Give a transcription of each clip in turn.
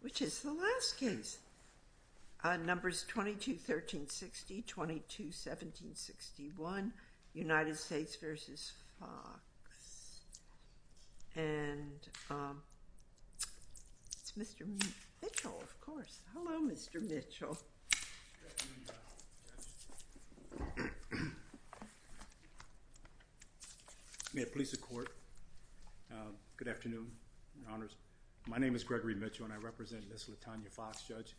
Which is the last case. Numbers 22-1360, 22-1761, United States v. Foxx. And it's Mr. Mitchell, of course. Hello, Mr. Mitchell. May it please the court. Good afternoon, Your Honors. My name is Gregory Mitchell and I represent Ms. LaTonya Foxx, Judge.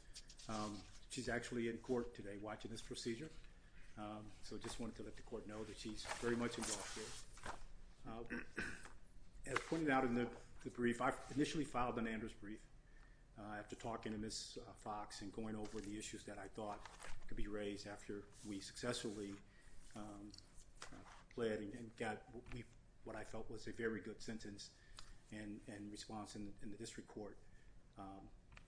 She's actually in court today watching this procedure. So I just wanted to let the court know that she's very much involved here. As pointed out in the brief, I initially filed an Anders brief after talking to Ms. Foxx and going over the issues that I thought could be raised after we successfully pled and got what I felt was a very good sentence and response in the district court.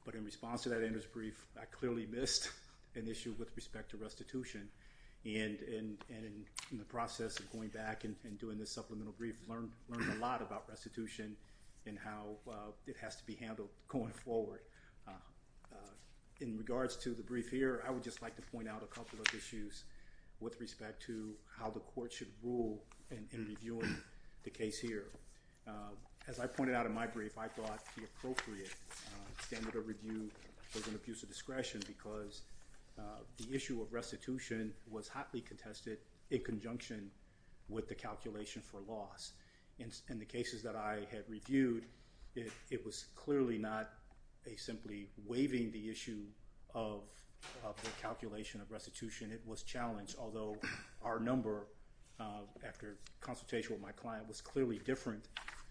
But in response to that Anders brief, I clearly missed an issue with respect to restitution. And in the process of going back and doing this supplemental brief, we've learned a lot about restitution and how it has to be handled going forward. In regards to the brief here, I would just like to point out a couple of issues with respect to how the court should rule in reviewing the case here. As I pointed out in my brief, I thought the appropriate standard of review was an abuse of discretion because the issue of restitution was hotly contested in conjunction with the calculation for loss. In the cases that I had reviewed, it was clearly not simply waiving the issue of the calculation of restitution. It was challenged, although our number after consultation with my client was clearly different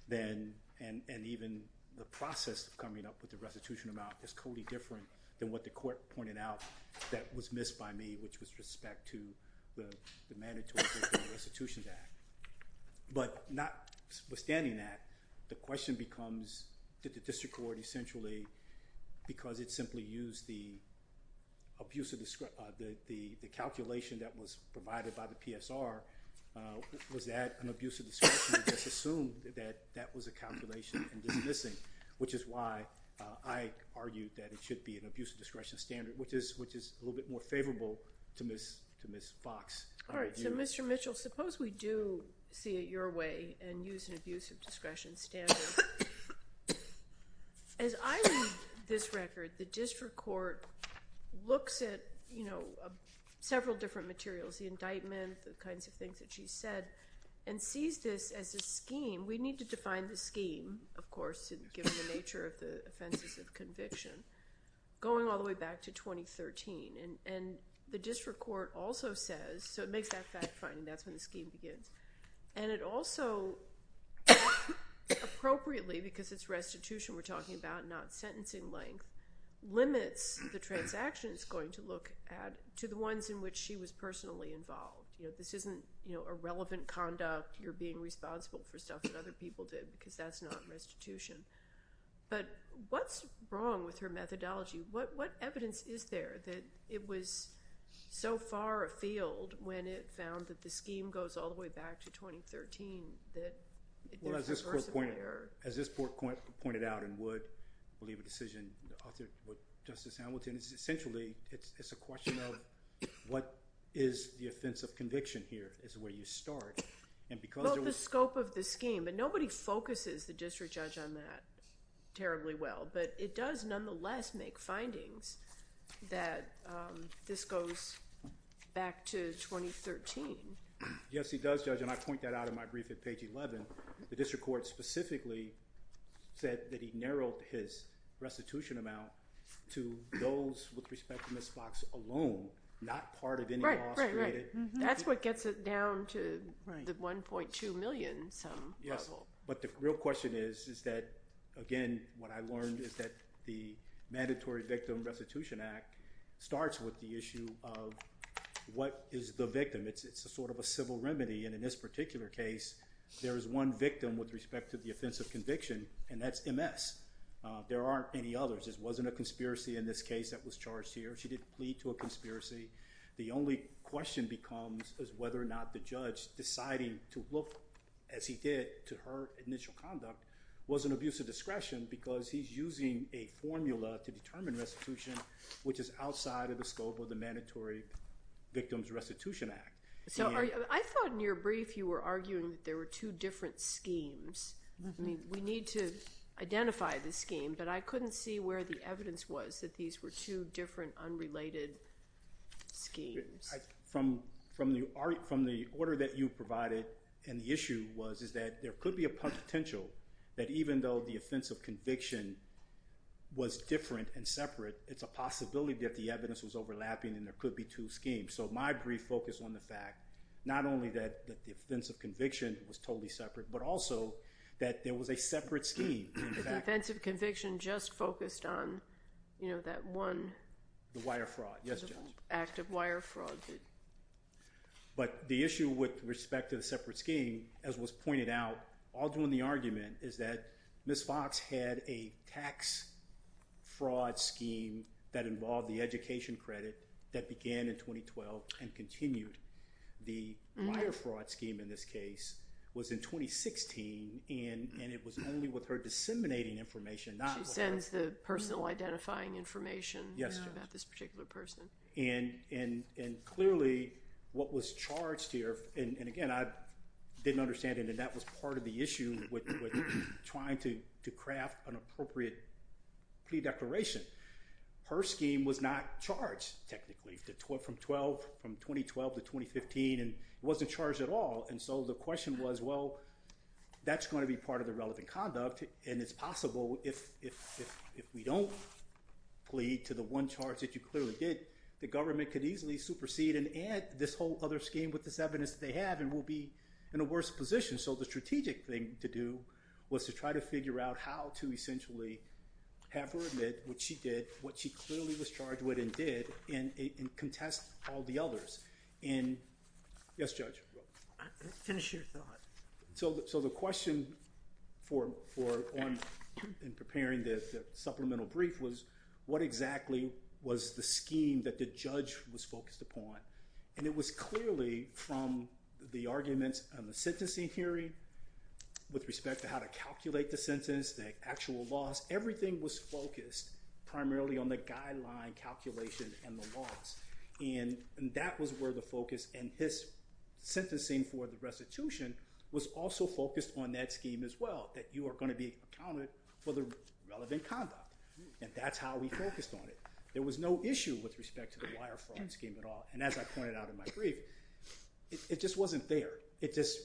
than and even the process of coming up with the restitution amount is clearly different than what the court pointed out that was missed by me, which was respect to the mandatory Restitution Act. But notwithstanding that, the question becomes, did the district court essentially, because it simply used the abuse of discretion, the calculation that was provided by the PSR, was that an abuse of discretion or just assumed that that was a calculation and just missing, which is why I argued that it should be an abuse of discretion standard, which is a little bit more favorable to Ms. Fox. All right, so Mr. Mitchell, suppose we do see it your way and use an abuse of discretion standard. As I read this record, the district court looks at several different materials, the indictment, the kinds of things that she said, and sees this as a scheme. We need to define the scheme, of course, given the nature of the offenses of conviction, going all the way back to 2013. And the district court also says, so it makes that fact-finding. That's when the scheme begins. And it also appropriately, because it's restitution we're talking about, not sentencing length, limits the transaction it's going to look at to the ones in which she was personally involved. This isn't irrelevant conduct. You're being responsible for stuff that other people did, because that's not restitution. But what's wrong with her methodology? What evidence is there that it was so far afield when it found that the scheme goes all the way back to 2013 that there's subversive error? As this court pointed out and would believe a decision, Justice Hamilton, essentially it's a question of what is the offense of conviction here is where you start. Well, the scope of the scheme. But nobody focuses the district judge on that terribly well. But it does nonetheless make findings that this goes back to 2013. Yes, it does, Judge, and I point that out in my brief at page 11. The district court specifically said that he narrowed his restitution amount to those with respect to Ms. Fox alone, not part of any loss created. Right, right, right. That's what gets it down to the $1.2 million some level. Yes, but the real question is that, again, what I learned is that the Mandatory Victim Restitution Act starts with the issue of what is the victim. It's a sort of a civil remedy. And in this particular case, there is one victim with respect to the offense of conviction, and that's Ms. There aren't any others. This wasn't a conspiracy in this case that was charged here. She didn't plead to a conspiracy. The only question becomes is whether or not the judge deciding to look as he did to her initial conduct was an abuse of discretion because he's using a formula to determine restitution, which is outside of the scope of the Mandatory Victim Restitution Act. So I thought in your brief you were arguing that there were two different schemes. We need to identify the scheme, but I couldn't see where the evidence was that these were two different unrelated schemes. From the order that you provided and the issue was is that there could be a potential that even though the offense of conviction was different and separate, it's a possibility that the evidence was overlapping and there could be two schemes. So my brief focused on the fact not only that the offense of conviction was totally separate, but also that there was a separate scheme. The offense of conviction just focused on, you know, that one. The wire fraud. Yes, Judge. Active wire fraud. But the issue with respect to the separate scheme, as was pointed out, all during the argument, is that Ms. Fox had a tax fraud scheme that involved the education credit that began in 2012 and continued. The wire fraud scheme in this case was in 2016, and it was only with her disseminating information. She sends the personal identifying information about this particular person. And clearly what was charged here, and again, I didn't understand it, and that was part of the issue with trying to craft an appropriate plea declaration. Her scheme was not charged technically from 2012 to 2015, and it wasn't charged at all. And so the question was, well, that's going to be part of the relevant conduct, and it's possible if we don't plead to the one charge that you clearly did, the government could easily supersede and add this whole other scheme with this evidence that they have and we'll be in a worse position. So the strategic thing to do was to try to figure out how to essentially have her admit what she did, what she clearly was charged with and did, and contest all the others. Yes, Judge? Finish your thought. So the question in preparing the supplemental brief was what exactly was the scheme that the judge was focused upon, and it was clearly from the arguments in the sentencing hearing with respect to how to calculate the sentence, the actual loss, everything was focused primarily on the guideline calculation and the loss. And that was where the focus and his sentencing for the restitution was also focused on that scheme as well, that you are going to be accounted for the relevant conduct. And that's how we focused on it. There was no issue with respect to the wire fraud scheme at all. And as I pointed out in my brief, it just wasn't there. It just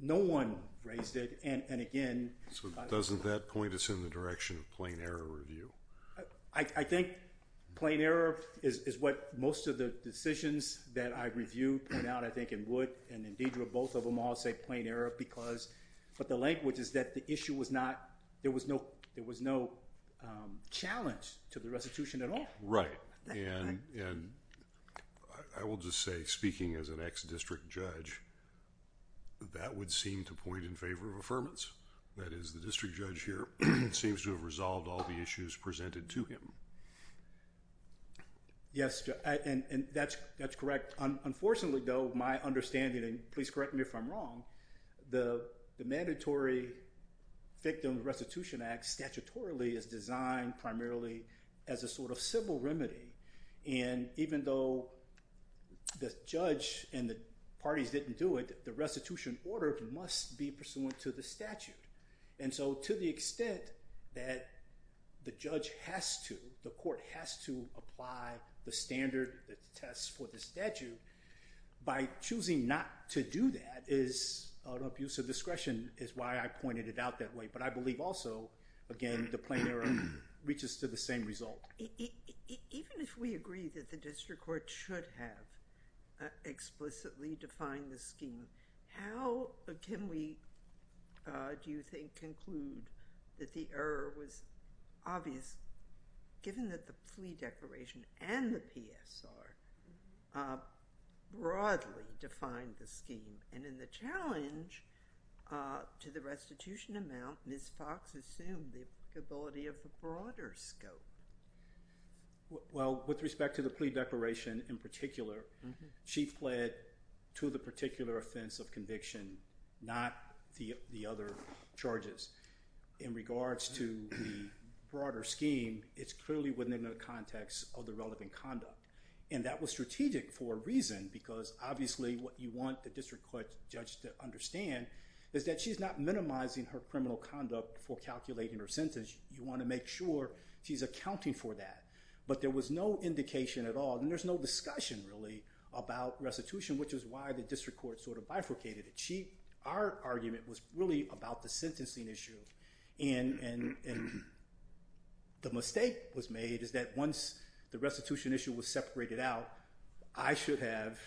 no one raised it. And, again- So doesn't that point us in the direction of plain error review? I think plain error is what most of the decisions that I review point out, I think, and Wood and Indidra, both of them all say plain error because, but the language is that the issue was not, there was no challenge to the restitution at all. Right. And I will just say, speaking as an ex-district judge, that would seem to point in favor of affirmance. That is, the district judge here seems to have resolved all the issues presented to him. Yes, and that's correct. Unfortunately, though, my understanding, and please correct me if I'm wrong, the mandatory Victim Restitution Act statutorily is designed primarily as a sort of civil remedy. And even though the judge and the parties didn't do it, the restitution order must be pursuant to the statute. And so to the extent that the judge has to, the court has to apply the standard test for the statute, by choosing not to do that is an abuse of discretion, is why I pointed it out that way. But I believe also, again, the plain error reaches to the same result. Even if we agree that the district court should have explicitly defined the scheme, how can we, do you think, conclude that the error was obvious, given that the Flea Declaration and the PSR broadly defined the scheme? And in the challenge to the restitution amount, Ms. Fox assumed the applicability of the broader scope. Well, with respect to the Flea Declaration in particular, she fled to the particular offense of conviction, not the other charges. In regards to the broader scheme, it's clearly within the context of the relevant conduct. And that was strategic for a reason, because obviously what you want the district court judge to understand is that she's not minimizing her criminal conduct for calculating her sentence. You want to make sure she's accounting for that. But there was no indication at all, and there's no discussion, really, about restitution, which is why the district court sort of bifurcated it. Our argument was really about the sentencing issue. And the mistake was made is that once the restitution issue was separated out, I should have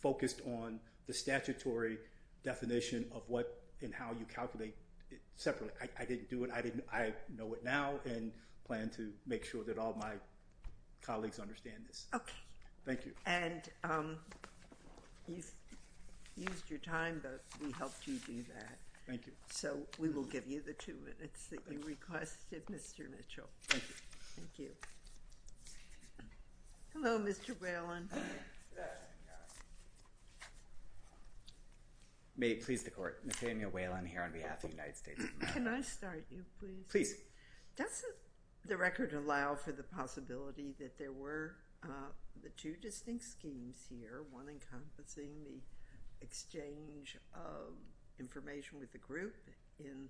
focused on the statutory definition of what and how you calculate it separately. I didn't do it. I know it now and plan to make sure that all my colleagues understand this. Okay. Thank you. And you've used your time, but we helped you do that. Thank you. So we will give you the two minutes that you requested, Mr. Mitchell. Thank you. Thank you. Hello, Mr. Whelan. May it please the Court. Nathaniel Whelan here on behalf of the United States of America. Can I start you, please? Please. Doesn't the record allow for the possibility that there were the two distinct schemes here, one encompassing the exchange of information with the group in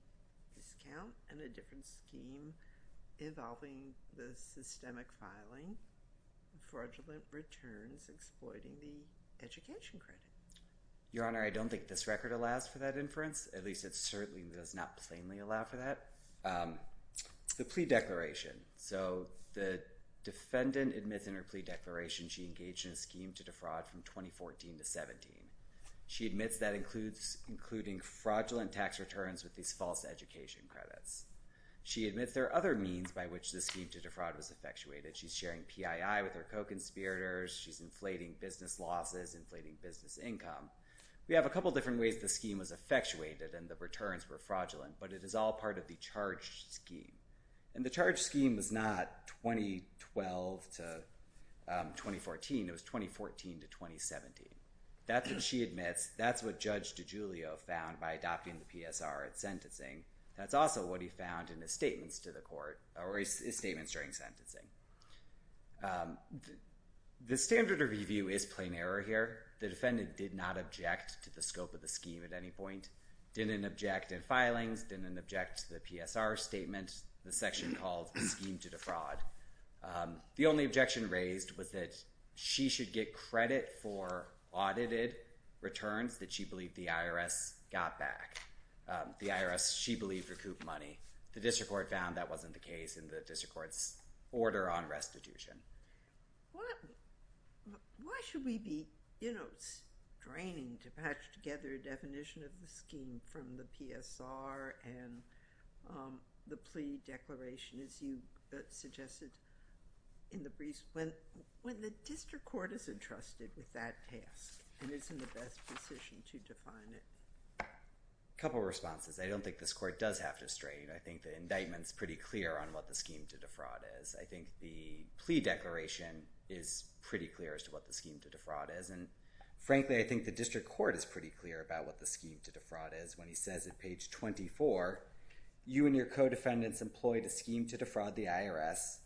discount and a different scheme involving the systemic filing fraudulent returns exploiting the education credit? Your Honor, I don't think this record allows for that inference. At least it certainly does not plainly allow for that. The plea declaration. So the defendant admits in her plea declaration she engaged in a scheme to defraud from 2014 to 17. She admits that includes including fraudulent tax returns with these false education credits. She admits there are other means by which the scheme to defraud was effectuated. She's sharing PII with her co-conspirators. She's inflating business losses, inflating business income. We have a couple different ways the scheme was effectuated and the returns were fraudulent, but it is all part of the charge scheme. And the charge scheme was not 2012 to 2014. It was 2014 to 2017. That's what she admits. That's what Judge DiGiulio found by adopting the PSR at sentencing. That's also what he found in his statements to the court or his statements during sentencing. The standard of review is plain error here. The defendant did not object to the scope of the scheme at any point, didn't object in filings, didn't object to the PSR statement, the section called scheme to defraud. The only objection raised was that she should get credit for audited returns that she believed the IRS got back. The IRS, she believed, recouped money. The district court found that wasn't the case in the district court's order on restitution. Why should we be straining to patch together a definition of the scheme from the PSR and the plea declaration, as you suggested in the briefs, when the district court is entrusted with that task and is in the best position to define it? A couple of responses. I don't think this court does have to strain. I think the indictment is pretty clear on what the scheme to defraud is. I think the plea declaration is pretty clear as to what the scheme to defraud is. And frankly, I think the district court is pretty clear about what the scheme to defraud is when he says at page 24, you and your co-defendants employed a scheme to defraud the IRS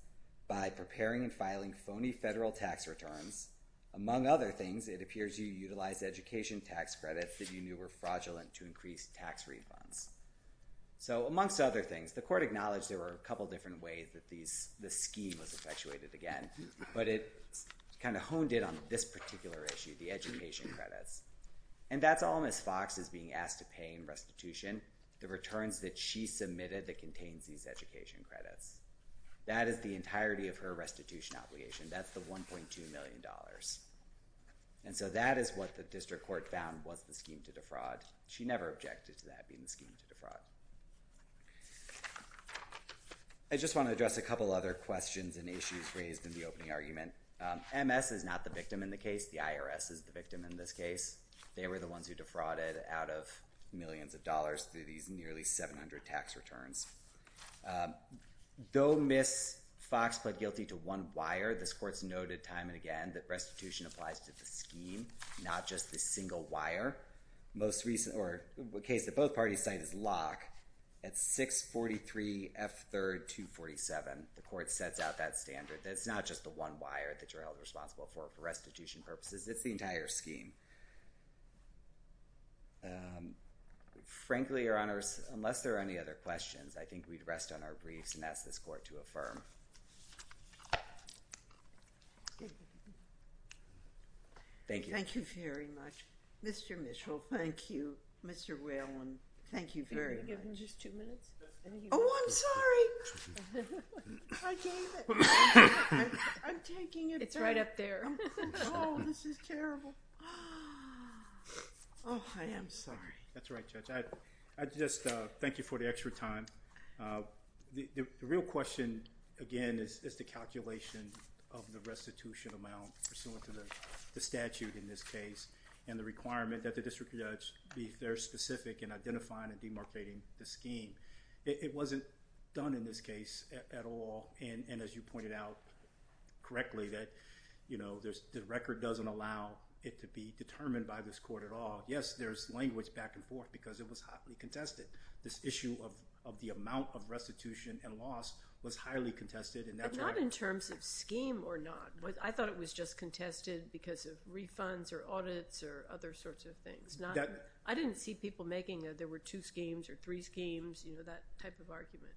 by preparing and filing phony federal tax returns. Among other things, it appears you utilized education tax credits that you knew were fraudulent to increase tax refunds. Amongst other things, the court acknowledged there were a couple of different ways that the scheme was effectuated again, but it kind of honed in on this particular issue, the education credits. And that's all Ms. Fox is being asked to pay in restitution, the returns that she submitted that contains these education credits. That is the entirety of her restitution obligation. That's the $1.2 million. And so that is what the district court found was the scheme to defraud. She never objected to that being the scheme to defraud. I just want to address a couple other questions and issues raised in the opening argument. MS is not the victim in the case. The IRS is the victim in this case. They were the ones who defrauded out of millions of dollars through these nearly 700 tax returns. Though Ms. Fox pled guilty to one wire, this court's noted time and again that restitution applies to the scheme, not just the single wire. The case that both parties cite is Locke at 643F3247. The court sets out that standard. It's not just the one wire that you're held responsible for for restitution purposes. It's the entire scheme. Frankly, Your Honors, unless there are any other questions, I think we'd rest on our briefs and ask this court to affirm. Thank you. Thank you very much. Mr. Mitchell, thank you. Mr. Whalen, thank you very much. Can you give him just two minutes? Oh, I'm sorry. I gave it. I'm taking it. It's right up there. Oh, this is terrible. Oh, I am sorry. That's right, Judge. I just thank you for the extra time. The real question, again, is the calculation of the restitution amount pursuant to the statute in this case and the requirement that the district judge be fair, specific in identifying and demarcating the scheme. It wasn't done in this case at all, and as you pointed out correctly, that the record doesn't allow it to be determined by this court at all. Yes, there's language back and forth because it was hotly contested. This issue of the amount of restitution and loss was highly contested. But not in terms of scheme or not. I thought it was just contested because of refunds or audits or other sorts of things. I didn't see people making a there were two schemes or three schemes, that type of argument.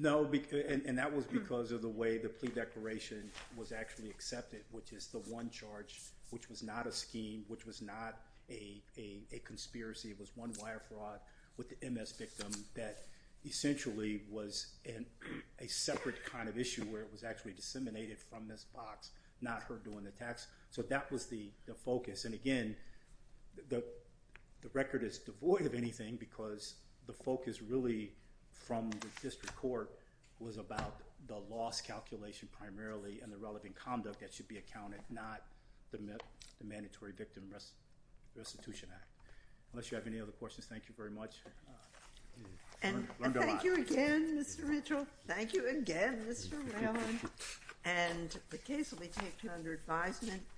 No, and that was because of the way the plea declaration was actually accepted, which is the one charge, which was not a scheme, which was not a conspiracy. It was one wire fraud with the MS victim that essentially was a separate kind of issue where it was actually disseminated from this box, not her doing the tax. So that was the focus, and again, the record is devoid of anything because the focus really from the district court was about the loss calculation primarily and the relevant conduct that should be accounted, not the mandatory victim restitution act. Unless you have any other questions, thank you very much. And thank you again, Mr. Mitchell. Thank you again, Mr. Rallin. And the case will be taken under advisement.